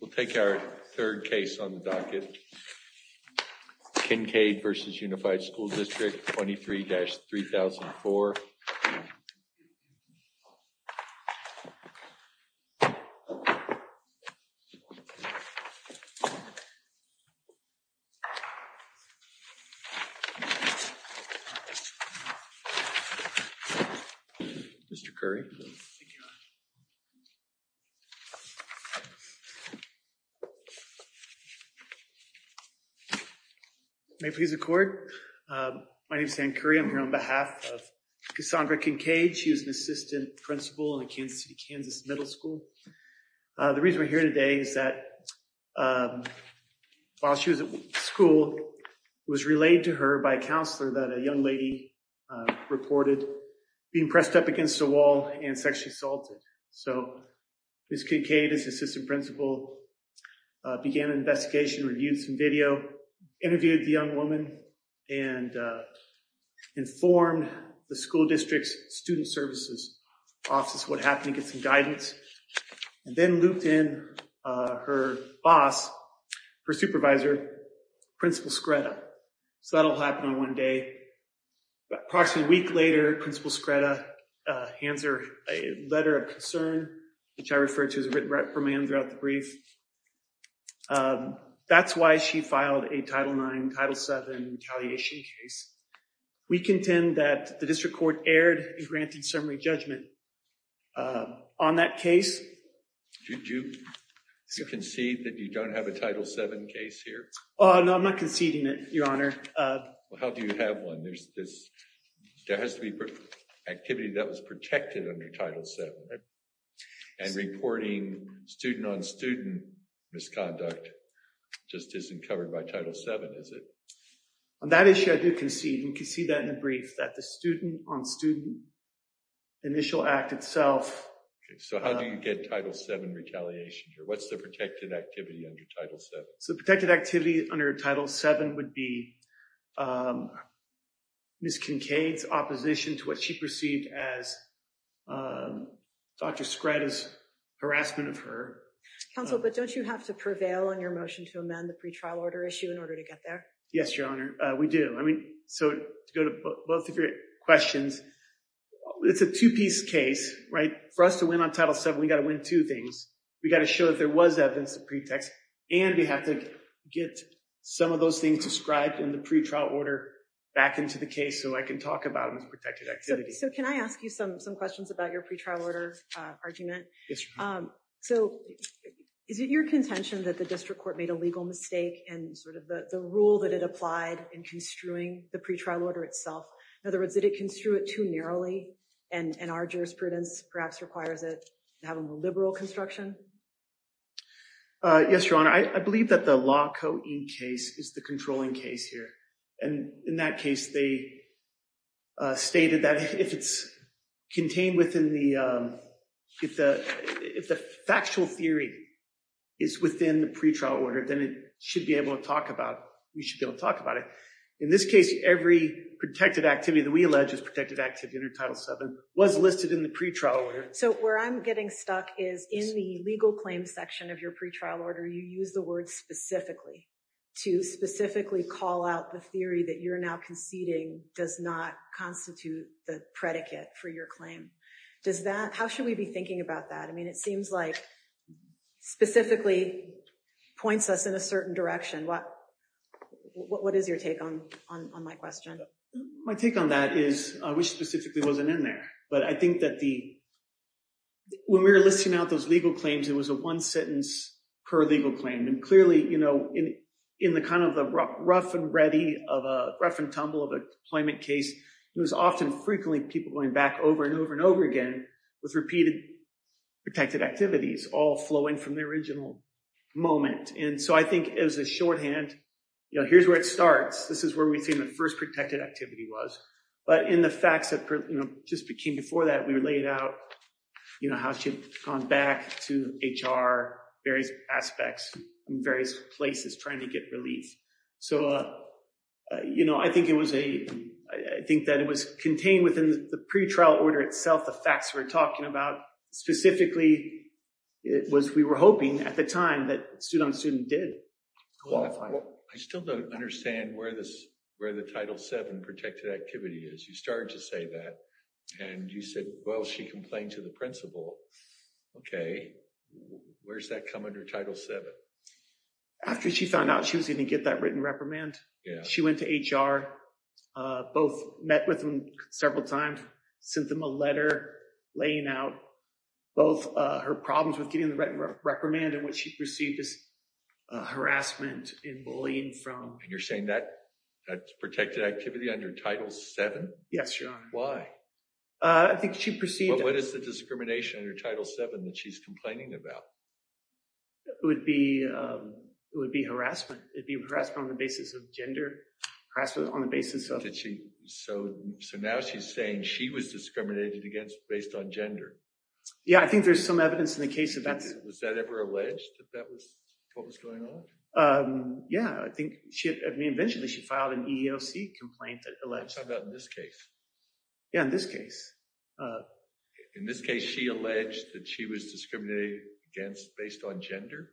We'll take our third case on the docket. Kincaid v. Unified School District 23-3004. My name is Hank Curry. I'm here on behalf of Cassandra Kincaid. She was an assistant principal in Kansas City, Kansas Middle School. The reason we're here today is that while she was at school, it was relayed to her by a counselor that a young lady reported being pressed up against a wall and sexually assaulted. So Ms. Kincaid, as assistant principal, began an investigation, reviewed some video, interviewed the young woman, and informed the school district's student services office what happened to get some guidance, and then looped in her boss, her supervisor, Principal Scretta. So that all happened on one day. Approximately a week later, Principal Scretta hands her a letter of concern, which I refer to as a written reprimand throughout the brief. That's why she filed a Title IX, Title VII retaliation case. We contend that the district court erred in granting summary judgment on that case. Did you concede that you don't have a Title VII case here? Oh, no, I'm not conceding it, Your Honor. Well, how do you have one? There has to be activity that was protected under Title VII. And reporting student-on-student misconduct just isn't covered by Title VII, is it? On that issue, I do concede, and concede that in the brief, that the student-on-student initial act itself- So how do you get Title VII retaliation here? What's the protected activity under Title VII? So the protected activity under Title VII would be Ms. Kincaid's opposition to what she perceived as Dr. Scretta's harassment of her. Counsel, but don't you have to prevail on your motion to amend the pre-trial order issue in order to get there? Yes, Your Honor, we do. I mean, so to go to both of your questions, it's a two-piece case, right? For us to win on Title VII, we've got to win two things. We've got to show that there was evidence to pretext, and we have to get some of those described in the pre-trial order back into the case so I can talk about this protected activity. So can I ask you some questions about your pre-trial order argument? So is it your contention that the district court made a legal mistake in sort of the rule that it applied in construing the pre-trial order itself? In other words, did it construe it too narrowly, and our jurisprudence perhaps requires it to have a more liberal construction? Yes, Your Honor, I believe that the Law Co. Inc. case is the controlling case here. And in that case, they stated that if it's contained within the, if the factual theory is within the pre-trial order, then it should be able to talk about, we should be able to talk about it. In this case, every protected activity that we allege is protected activity under Title VII was listed in the pre-trial order. So where I'm getting stuck is in the legal claim section of your pre-trial order, you use the word specifically to specifically call out the theory that you're now conceding does not constitute the predicate for your claim. Does that, how should we be thinking about that? I mean, it seems like specifically points us in a certain direction. What, what is your take on, on my question? My take on that is, I wish specifically wasn't in there, but I think that the, when we were listing out those legal claims, it was a one sentence per legal claim. And clearly, you know, in, in the kind of the rough and ready of a rough and tumble of a deployment case, it was often frequently people going back over and over and over again with repeated protected activities, all flowing from the original moment. And so I think as a shorthand, you know, here's where it starts. This is where we've seen the first protected activity was, but in the facts that, you know, just became before that, we were laid out, you know, how she had gone back to HR, various aspects in various places trying to get relief. So, you know, I think it was a, I think that it was contained within the pre-trial order itself. The facts we're talking about specifically, it was, we were hoping at the time that student did qualify. I still don't understand where this, where the Title VII protected activity is. You started to say that and you said, well, she complained to the principal. Okay. Where's that come under Title VII? After she found out she was going to get that written reprimand. Yeah. She went to HR, both met with them several times, sent them a letter laying out both her problems with getting the right reprimand and what she perceived as harassment in bullying from. And you're saying that that's protected activity under Title VII? Yes, Your Honor. Why? I think she perceived it. What is the discrimination under Title VII that she's complaining about? It would be harassment. It'd be harassment on the basis of gender, harassment on the basis of. Did she, so now she's saying she was discriminated against based on gender. Yeah. I think there's some evidence in the case of that. Was that ever alleged that that was what was going on? Yeah. I think she, I mean, eventually she filed an EEOC complaint that alleged. How about in this case? Yeah. In this case. In this case, she alleged that she was discriminated against based on gender.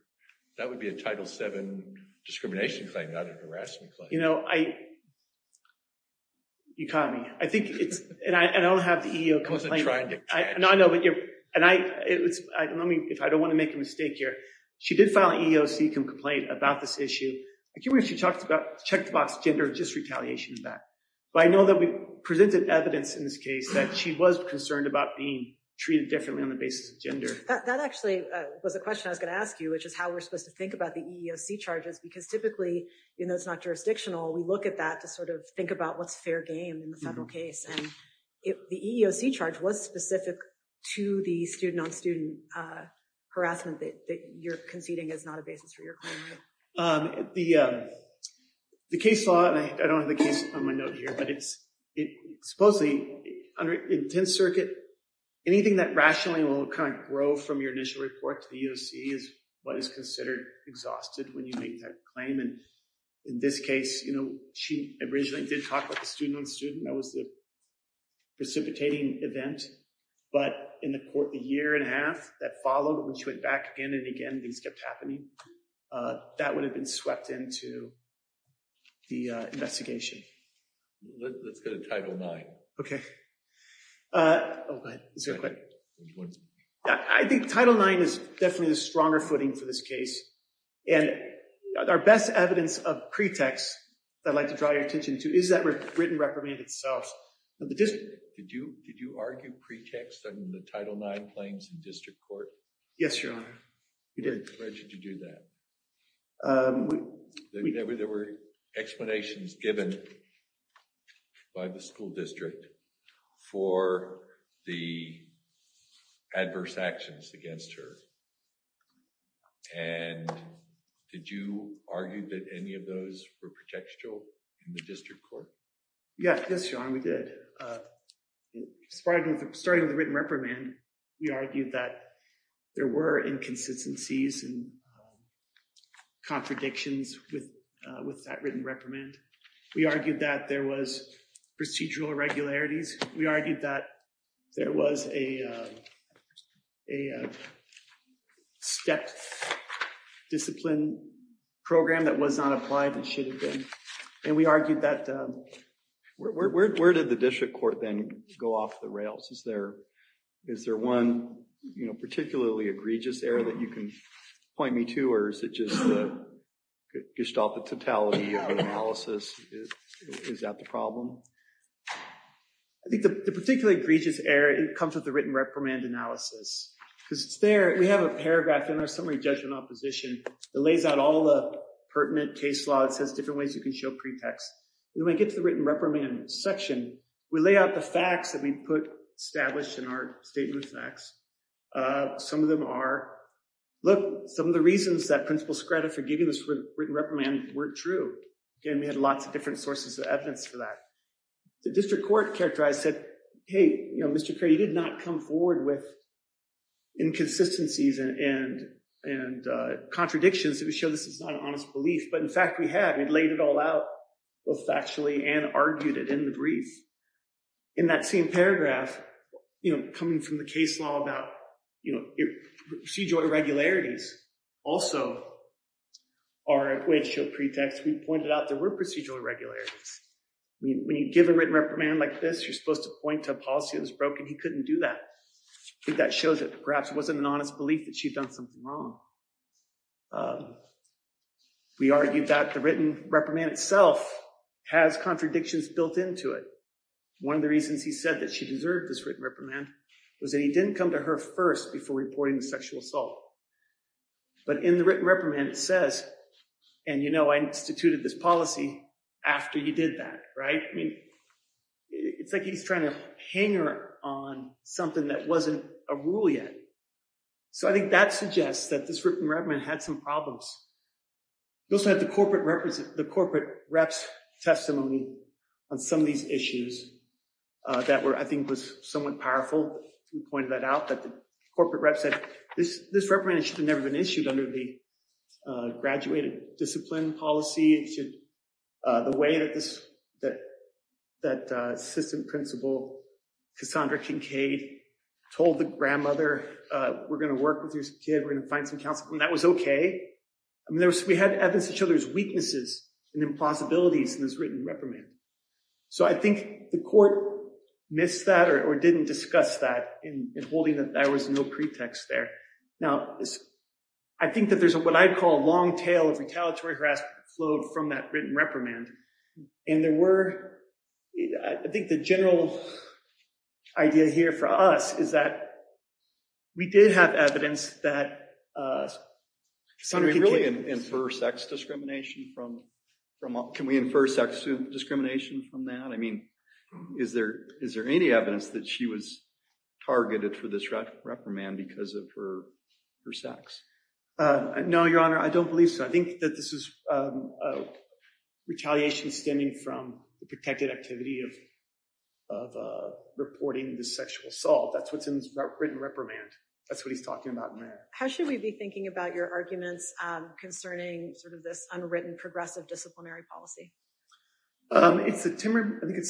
That would be a Title VII discrimination claim, not an harassment claim. You know, you caught me. I think it's, and I don't have the EEOC complaint. I wasn't trying to catch you. No, I know, but you're, and I, let me, if I don't want to make a mistake here. She did file an EEOC complaint about this issue. I can't remember if she talked about check the box gender, just retaliation of that. But I know that we presented evidence in this case that she was concerned about being treated differently on the basis of gender. That actually was a question I was going to ask you, which is how we're supposed to think about the EEOC charges, because typically, you know, it's not jurisdictional. We look at that to sort of think about what's fair game in the federal case. The EEOC charge was specific to the student-on-student harassment that you're conceding is not a basis for your claim, right? The case law, and I don't have the case on my note here, but it's, supposedly, under intense circuit, anything that rationally will kind of grow from your initial report to the EEOC is what is considered exhausted when you make that claim. And in this case, you know, she originally did talk about the student-on-student. That was the precipitating event. But in the year and a half that followed, when she went back again and again, things kept happening. That would have been swept into the investigation. Let's go to Title IX. Okay. I think Title IX is definitely the stronger footing for this case. And our best evidence of pretext that I'd like to draw your attention to is that written reprimand itself. Did you argue pretext in the Title IX claims in district court? Yes, Your Honor. We did. Why did you do that? There were explanations given by the school district for the adverse actions against her. And did you argue that any of those were pretextual in the district court? Yes, Your Honor. We did. Starting with the written reprimand, we argued that there were inconsistencies and contradictions with that written reprimand. We argued that there was procedural irregularities. We argued that there was a stepped discipline program that was not applied and should have been. And we argued that... Where did the district court then go off the rails? Is there one particularly egregious error that you can point me to? Or is it just the gestalt, the totality of the analysis? Is that the problem? I think the particularly egregious error comes with the written reprimand analysis. Because it's there, we have a paragraph in our summary judgment opposition that lays out all the pertinent case law. It says different ways you can show pretext. And when we get to the written reprimand section, we lay out the facts that we put established in our statement of facts. Some of them are... Look, some of the reasons that Principal Skrada for giving this written reprimand weren't true. Again, we had lots of different sources of evidence for that. The district court characterized said, hey, Mr. Kerry, you did not come forward with inconsistencies and contradictions that would show this is not an honest belief. But in fact, we had. We'd laid it all out both factually and argued it in the brief. In that same paragraph, coming from the case law about procedural irregularities. Also, our way to show pretext, we pointed out there were procedural irregularities. When you give a written reprimand like this, you're supposed to point to a policy that was broken. He couldn't do that. That shows that perhaps it wasn't an honest belief that she'd done something wrong. We argued that the written reprimand itself has contradictions built into it. One of the reasons he said that she deserved this written reprimand was that he didn't come to her first before reporting sexual assault. But in the written reprimand, it says, and you know, I instituted this policy after you did that, right? I mean, it's like he's trying to hang her on something that wasn't a rule yet. So I think that suggests that this written reprimand had some problems. You also have the corporate rep's testimony on some of these issues that were, I think, was somewhat powerful. We pointed that out that the corporate rep said, this reprimand should have never been issued under the graduated discipline policy. The way that assistant principal Cassandra Kincaid told the grandmother, we're going to work with your kid. We're going to find some counsel. And that was okay. I mean, we had evidence of children's weaknesses and impossibilities in this written reprimand. So I think the court missed that or didn't discuss that in holding that there was no pretext there. Now, I think that there's what I'd call a long tail of retaliatory harassment flowed from that written reprimand. And there were, I think the general idea here for us is that we did have evidence that Cassandra Kincaid- Can we really infer sex discrimination from, can we infer sex discrimination from that? I mean, is there any evidence that she was targeted for this reprimand because of her sex? No, your honor, I don't believe so. I think that this is a retaliation stemming from the protected activity of reporting the sexual assault. That's what's in this written reprimand. That's what he's talking about in there. How should we be thinking about your arguments concerning sort of this unwritten progressive disciplinary policy? I think it's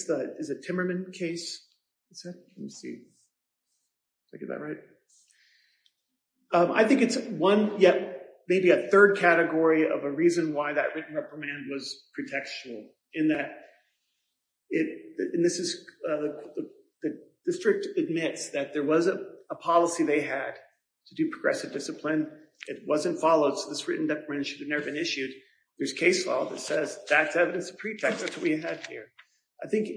the, is it Timmerman case? Is that, let me see. Did I get that right? I think it's one, yet maybe a third category of a reason why that written reprimand was pretextual in that it, and this is, the district admits that there was a policy they had to do progressive discipline. It wasn't followed. So this written reprimand should have never been issued. There's case law that says that's evidence of pretext. That's what we had here. I think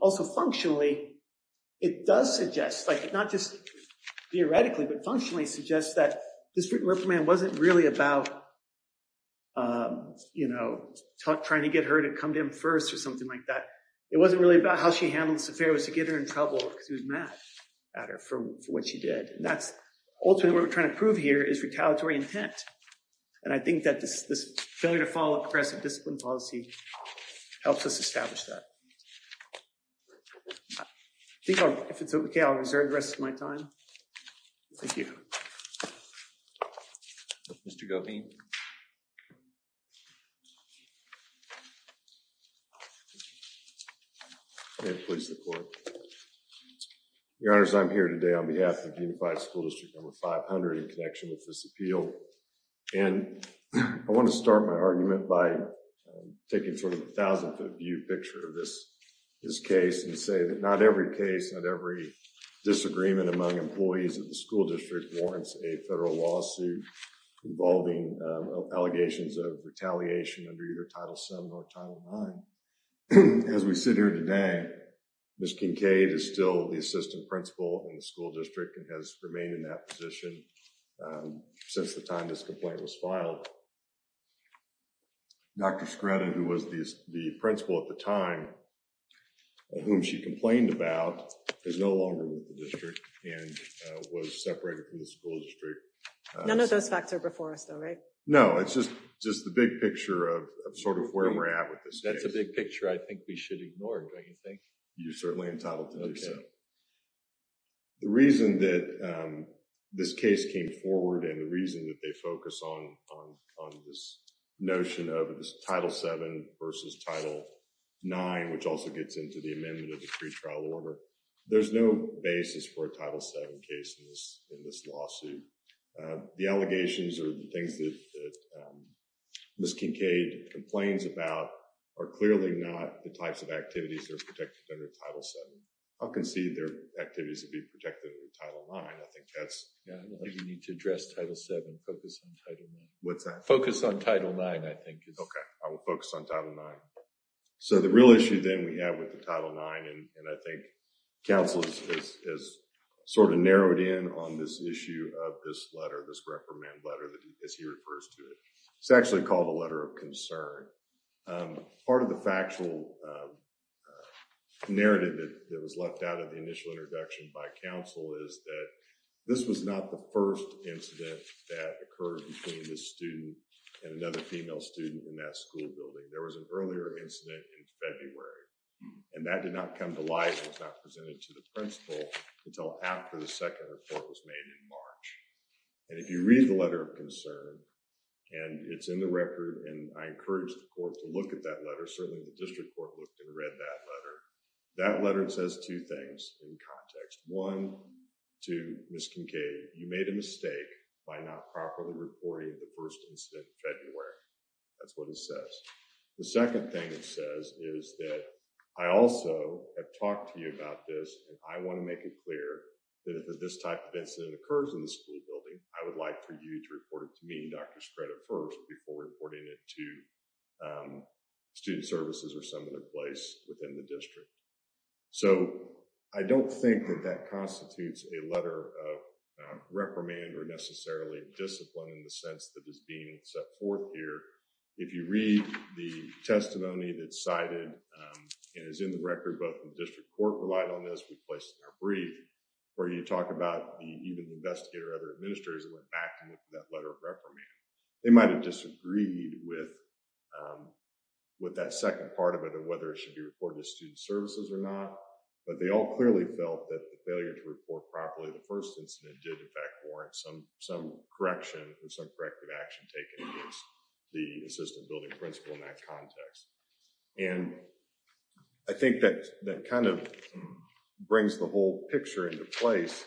also functionally, it does suggest like, not just theoretically, but functionally suggests that this written reprimand wasn't really about, you know, trying to get her to come to him first or something like that. It wasn't really about how she handled this affair. It was to get her in trouble because he was mad at her for what she did. And that's ultimately what we're trying to prove here is retaliatory intent. And I think that this failure to follow a progressive discipline policy helps us establish that. I think I'll, if it's okay, I'll reserve the rest of my time. Thank you. Mr. Govine. May it please the court. Your honors, I'm here today on behalf of the unified school district number 500 in connection with this appeal. And I want to start my argument by taking sort of a thousand foot view picture of this case and say that not every case, not every disagreement among employees of the school district warrants a federal lawsuit involving allegations of retaliation under your title seven or title nine. As we sit here today, Ms. Kincaid is still the assistant principal in the school district and has remained in that position since the time this complaint was filed. Dr. Scruton, who was the principal at the time of whom she complained about, is no longer with the district and was separated from the school district. None of those facts are before us though, right? No, it's just the big picture of sort of where we're at. That's a big picture I think we should ignore, don't you think? You're certainly entitled to do so. The reason that this case came forward and the reason that they focus on this notion of this title seven versus title nine, which also gets into the amendment of the pretrial order, there's no basis for a title seven case in this lawsuit. The allegations or the things that Ms. Kincaid complains about are clearly not the types of activities that are protected under title seven. I'll concede their activities would be protected under title nine. Yeah, you need to address title seven, focus on title nine. What's that? Focus on title nine, I think. Okay, I will focus on title nine. So the real issue then we have with the title nine and I think counsel has sort of narrowed in on this issue of this letter, this reprimand letter as he refers to it. It's actually called a letter of concern. Part of the factual narrative that was left out of the initial introduction by counsel is that this was not the first incident that occurred between this student and another female student in that school building. There was an earlier incident in February and that did not come to light. It was not presented to the principal until after the second report was made in March. And if you read the letter of concern and it's in the record and I encourage the court to look at that letter. Certainly the district court looked and read that letter. That letter says two things in context. One, to Ms. Kincaid, you made a mistake by not properly reporting the first incident in February. That's what it says. The second thing it says is that I also have talked to you about this and I wanna make it clear that if this type of incident occurs in the school building, I would like for you to report it to me, Dr. Stratton first before reporting it to student services or some other place within the district. So I don't think that that constitutes a letter of reprimand or necessarily discipline in the sense that is being set forth here. If you read the testimony that's cited and is in the record, both the district court relied on this, we placed it in our brief where you talk about even the investigator or other administrators went back and looked at that letter of reprimand. They might've disagreed with that second part of it whether it should be reported to student services or not, but they all clearly felt that the failure to report properly the first incident did in fact warrant some correction or some corrective action taken against the assistant building principal in that context. And I think that kind of brings the whole picture into place.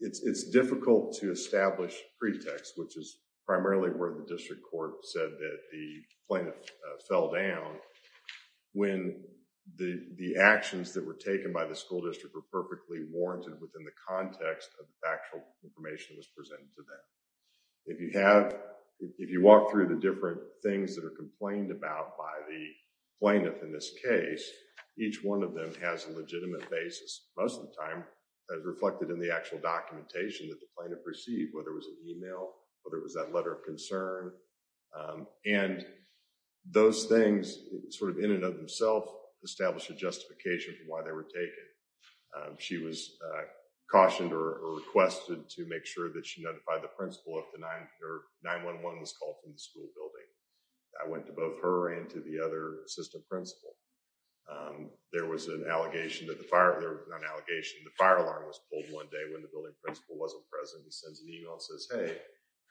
It's difficult to establish pretext, which is primarily where the district court said that the plaintiff fell down. When the actions that were taken by the school district were perfectly warranted within the context of the factual information that was presented to them. If you walk through the different things that are complained about by the plaintiff in this case, each one of them has a legitimate basis. Most of the time, that is reflected in the actual documentation that the plaintiff received, whether it was an email, whether it was that letter of concern. And those things sort of in and of themselves establish a justification for why they were taken. She was cautioned or requested to make sure that she notified the principal if the 911 was called from the school building. I went to both her and to the other assistant principal. There was an allegation that the fire, there was an allegation, the fire alarm was pulled one day when the building principal wasn't present. He sends an email and says,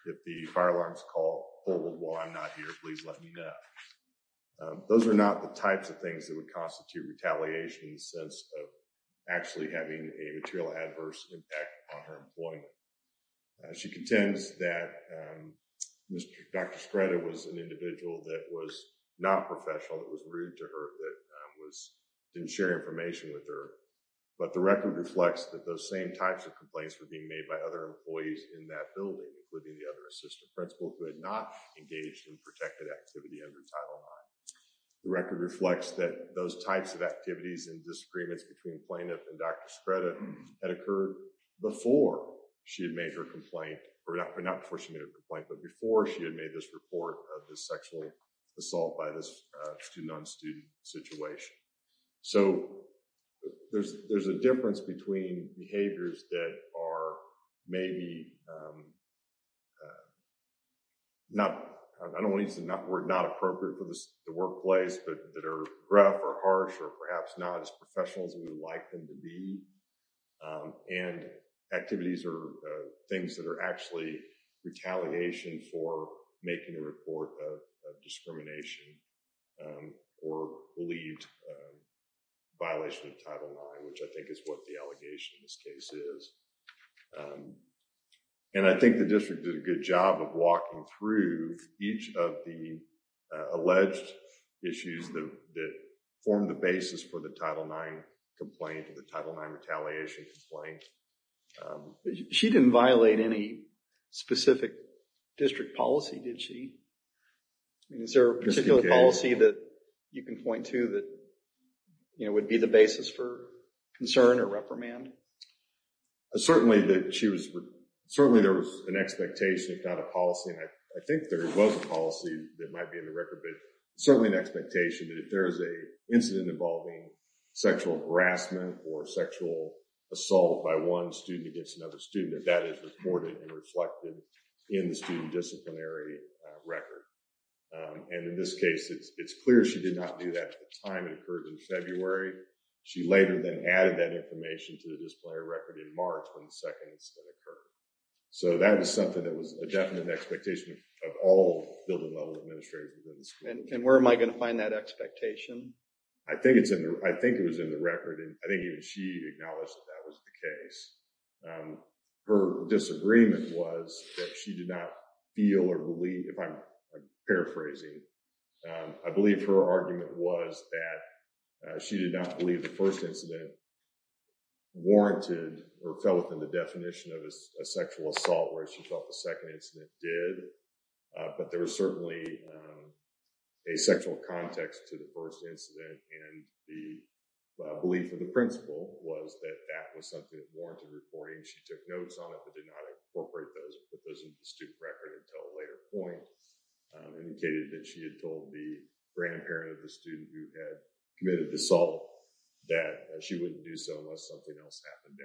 if the fire alarm is called, hold on while I'm not here, please let me know. Those are not the types of things that would constitute retaliation in the sense of actually having a material adverse impact on her employment. She contends that Dr. Strada was an individual that was not professional, that was rude to her, that didn't share information with her. But the record reflects that those same types of complaints were being made by other employees in that building, including the other assistant principal who had not engaged in protected activity under Title IX. The record reflects that those types of activities and disagreements between plaintiff and Dr. Strada had occurred before she had made her complaint or not before she made a complaint, but before she had made this report of this sexual assault by this student on student situation. So there's a difference between behaviors that are maybe, not, I don't wanna use the word not appropriate for the workplace, but that are rough or harsh or perhaps not as professional as we would like them to be. And activities or things that are actually retaliation for making a report of discrimination or believed violation of Title IX, which I think is what the allegation in this case is. And I think the district did a good job of walking through each of the alleged issues that formed the basis for the Title IX complaint or the Title IX retaliation complaint. But she didn't violate any specific district policy, did she? I mean, is there a particular policy that you can point to that would be the basis for concern or reprimand? Certainly there was an expectation, if not a policy, and I think there was a policy that might be in the record, but certainly an expectation that if there is a incident involving sexual harassment or sexual assault by one student against another student, that that is reported and reflected in the student disciplinary record. And in this case, it's clear she did not do that at the time it occurred in February. She later then added that information to the disciplinary record in March when the second incident occurred. So that was something that was a definite expectation of all building level administrators. And where am I going to find that expectation? I think it was in the record, and I think even she acknowledged that that was the case. Her disagreement was that she did not feel or believe, if I'm paraphrasing, I believe her argument was that she did not believe the first incident warranted or fell within the definition of a sexual assault, whereas she thought the second incident did. But there was certainly a sexual context to the first incident, and the belief of the principal was that that was something that warranted reporting. She took notes on it, but did not incorporate those or put those into the student record until a later point, indicated that she had told the grandparent of the student who had committed the assault that she wouldn't do so unless something else happened.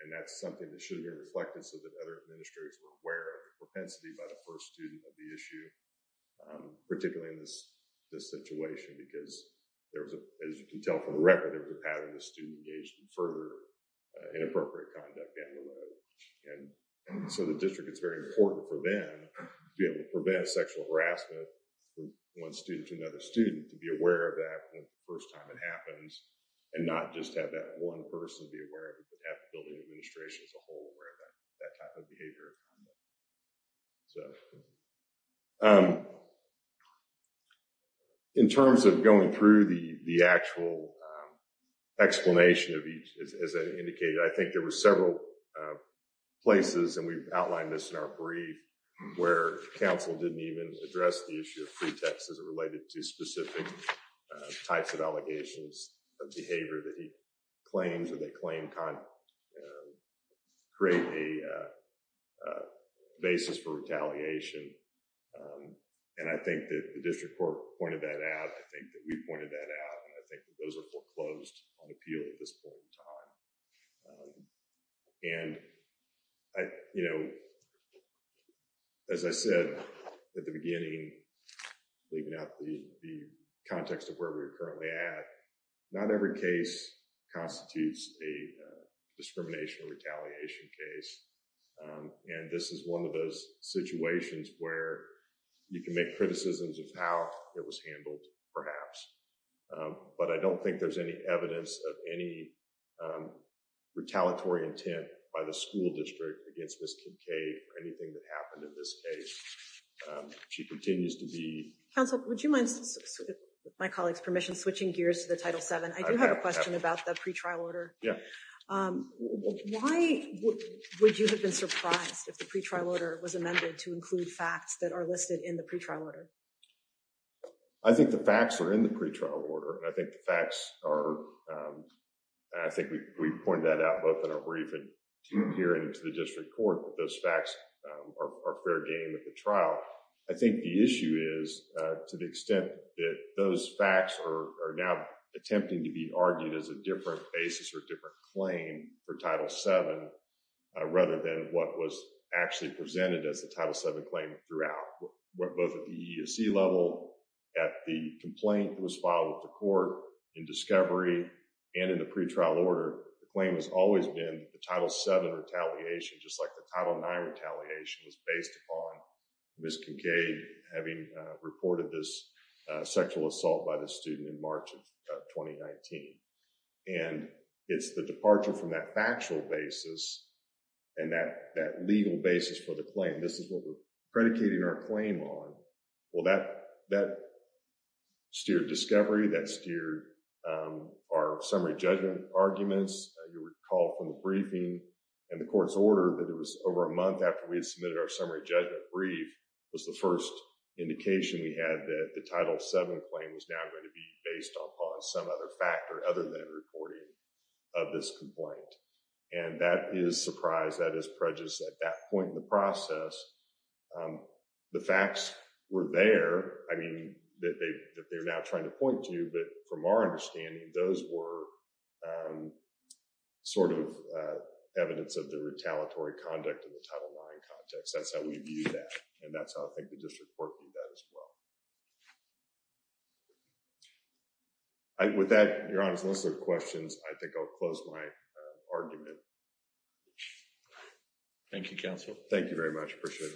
And that's something that should be reflected so that other administrators were aware of the propensity by the first student of the issue, particularly in this situation, because there was, as you can tell from the record, it was a pattern of the student engaged in further inappropriate conduct down the road. And so the district is very important for them to be able to prevent sexual harassment from one student to another student, to be aware of that when the first time it happens, and not just have that one person be aware of it, but have the building administration as a whole aware of that type of behavior. So in terms of going through the actual explanation of each, as I indicated, I think there were several places, and we've outlined this in our brief, where council didn't even address the issue of pretext as it related to specific types of allegations of behavior that he claims, or they claim, create a basis for retaliation. And I think that the district court pointed that out. I think that we pointed that out. And I think that those are foreclosed on appeal at this point in time. And as I said at the beginning, leaving out the context of where we're currently at, not every case constitutes a discrimination or retaliation case. And this is one of those situations where you can make criticisms of how it was handled, perhaps. But I don't think there's any evidence of any retaliatory intent by the school district against Ms. Kincaid or anything that happened in this case. She continues to be... Council, would you mind, with my colleague's permission, switching gears to the Title VII, I do have a question about the pretrial order. Why would you have been surprised if the pretrial order was amended to include facts that are listed in the pretrial order? I think the facts are in the pretrial order. And I think the facts are... I think we pointed that out both in our briefing here and to the district court, that those facts are fair game at the trial. I think the issue is, to the extent that those facts are now attempting to be argued as a different basis or a different claim for Title VII, rather than what was actually presented as the Title VII claim throughout. Both at the EESC level, at the complaint that was filed with the court, in discovery, and in the pretrial order, the claim has always been the Title VII retaliation, just like the Title IX retaliation is based upon Ms. Kincaid having reported this sexual assault by the student in March of 2019. And it's the departure from that factual basis and that legal basis for the claim. This is what we're predicating our claim on. Well, that steered discovery, that steered our summary judgment arguments. You recall from the briefing and the court's order that it was over a month after we had submitted our summary judgment brief was the first indication we had that the Title VII claim was now going to be based upon some other factor other than reporting of this complaint. And that is surprise, that is prejudice. At that point in the process, the facts were there, I mean, that they're now trying to point to. But from our understanding, those were sort of evidence of the retaliatory conduct of the Title IX context. That's how we view that. And that's how I think the district court viewed that as well. And with that, Your Honor, those are the questions. I think I'll close my argument. Thank you, counsel. Thank you very much. Appreciate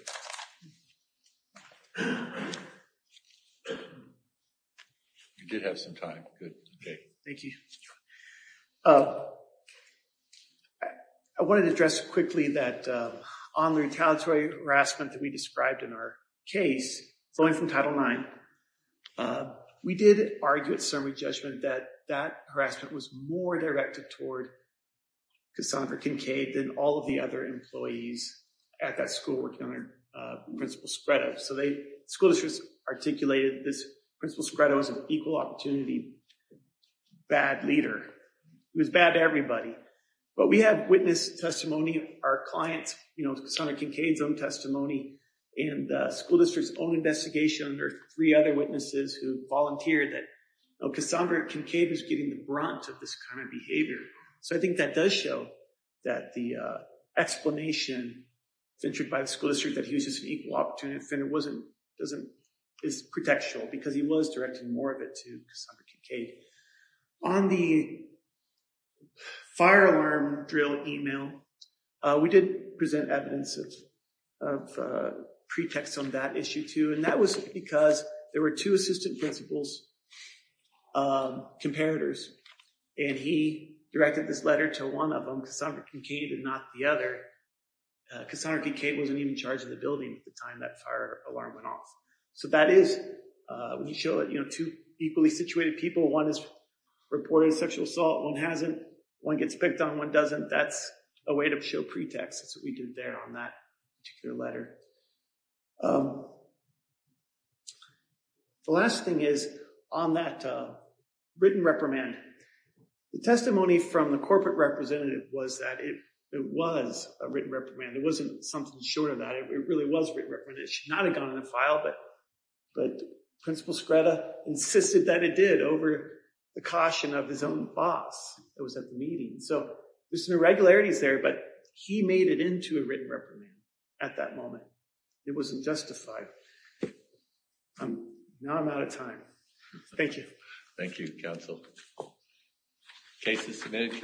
it. You did have some time. Good. Thank you. I wanted to address quickly that on the retaliatory harassment that we described in our case flowing from Title IX, we did argue at summary judgment that that harassment was more directed toward Cassandra Kincaid than all of the other employees at that school working under Principal Scretto. So the school districts articulated this Principal Scretto as an equal opportunity, bad leader. It was bad to everybody. But we have witness testimony, our clients, you know, Cassandra Kincaid's own testimony and the school district's own investigation or three other witnesses who volunteered that Cassandra Kincaid is getting the brunt of this kind of behavior. So I think that does show that the explanation ventured by the school district that he was just an equal opportunity offender is pretextual because he was directing more of it to Cassandra Kincaid. On the fire alarm drill email, we did present evidence of pretext on that issue too. That was because there were two assistant principals comparators and he directed this letter to one of them, Cassandra Kincaid, and not the other. Cassandra Kincaid wasn't even charged in the building at the time that fire alarm went off. So that is, when you show it, you know, two equally situated people, one is reporting sexual assault, one hasn't, one gets picked on, one doesn't. That's a way to show pretext. That's what we did there on that particular letter. The last thing is on that written reprimand. The testimony from the corporate representative was that it was a written reprimand. It wasn't something short of that. It really was written reprimand. It should not have gone in the file, but Principal Scretta insisted that it did over the caution of his own boss that was at the meeting. So there's some irregularities there, but he made it into a written reprimand at that moment. It wasn't justified. I'm, now I'm out of time. Thank you. Thank you, Council. Cases submitted.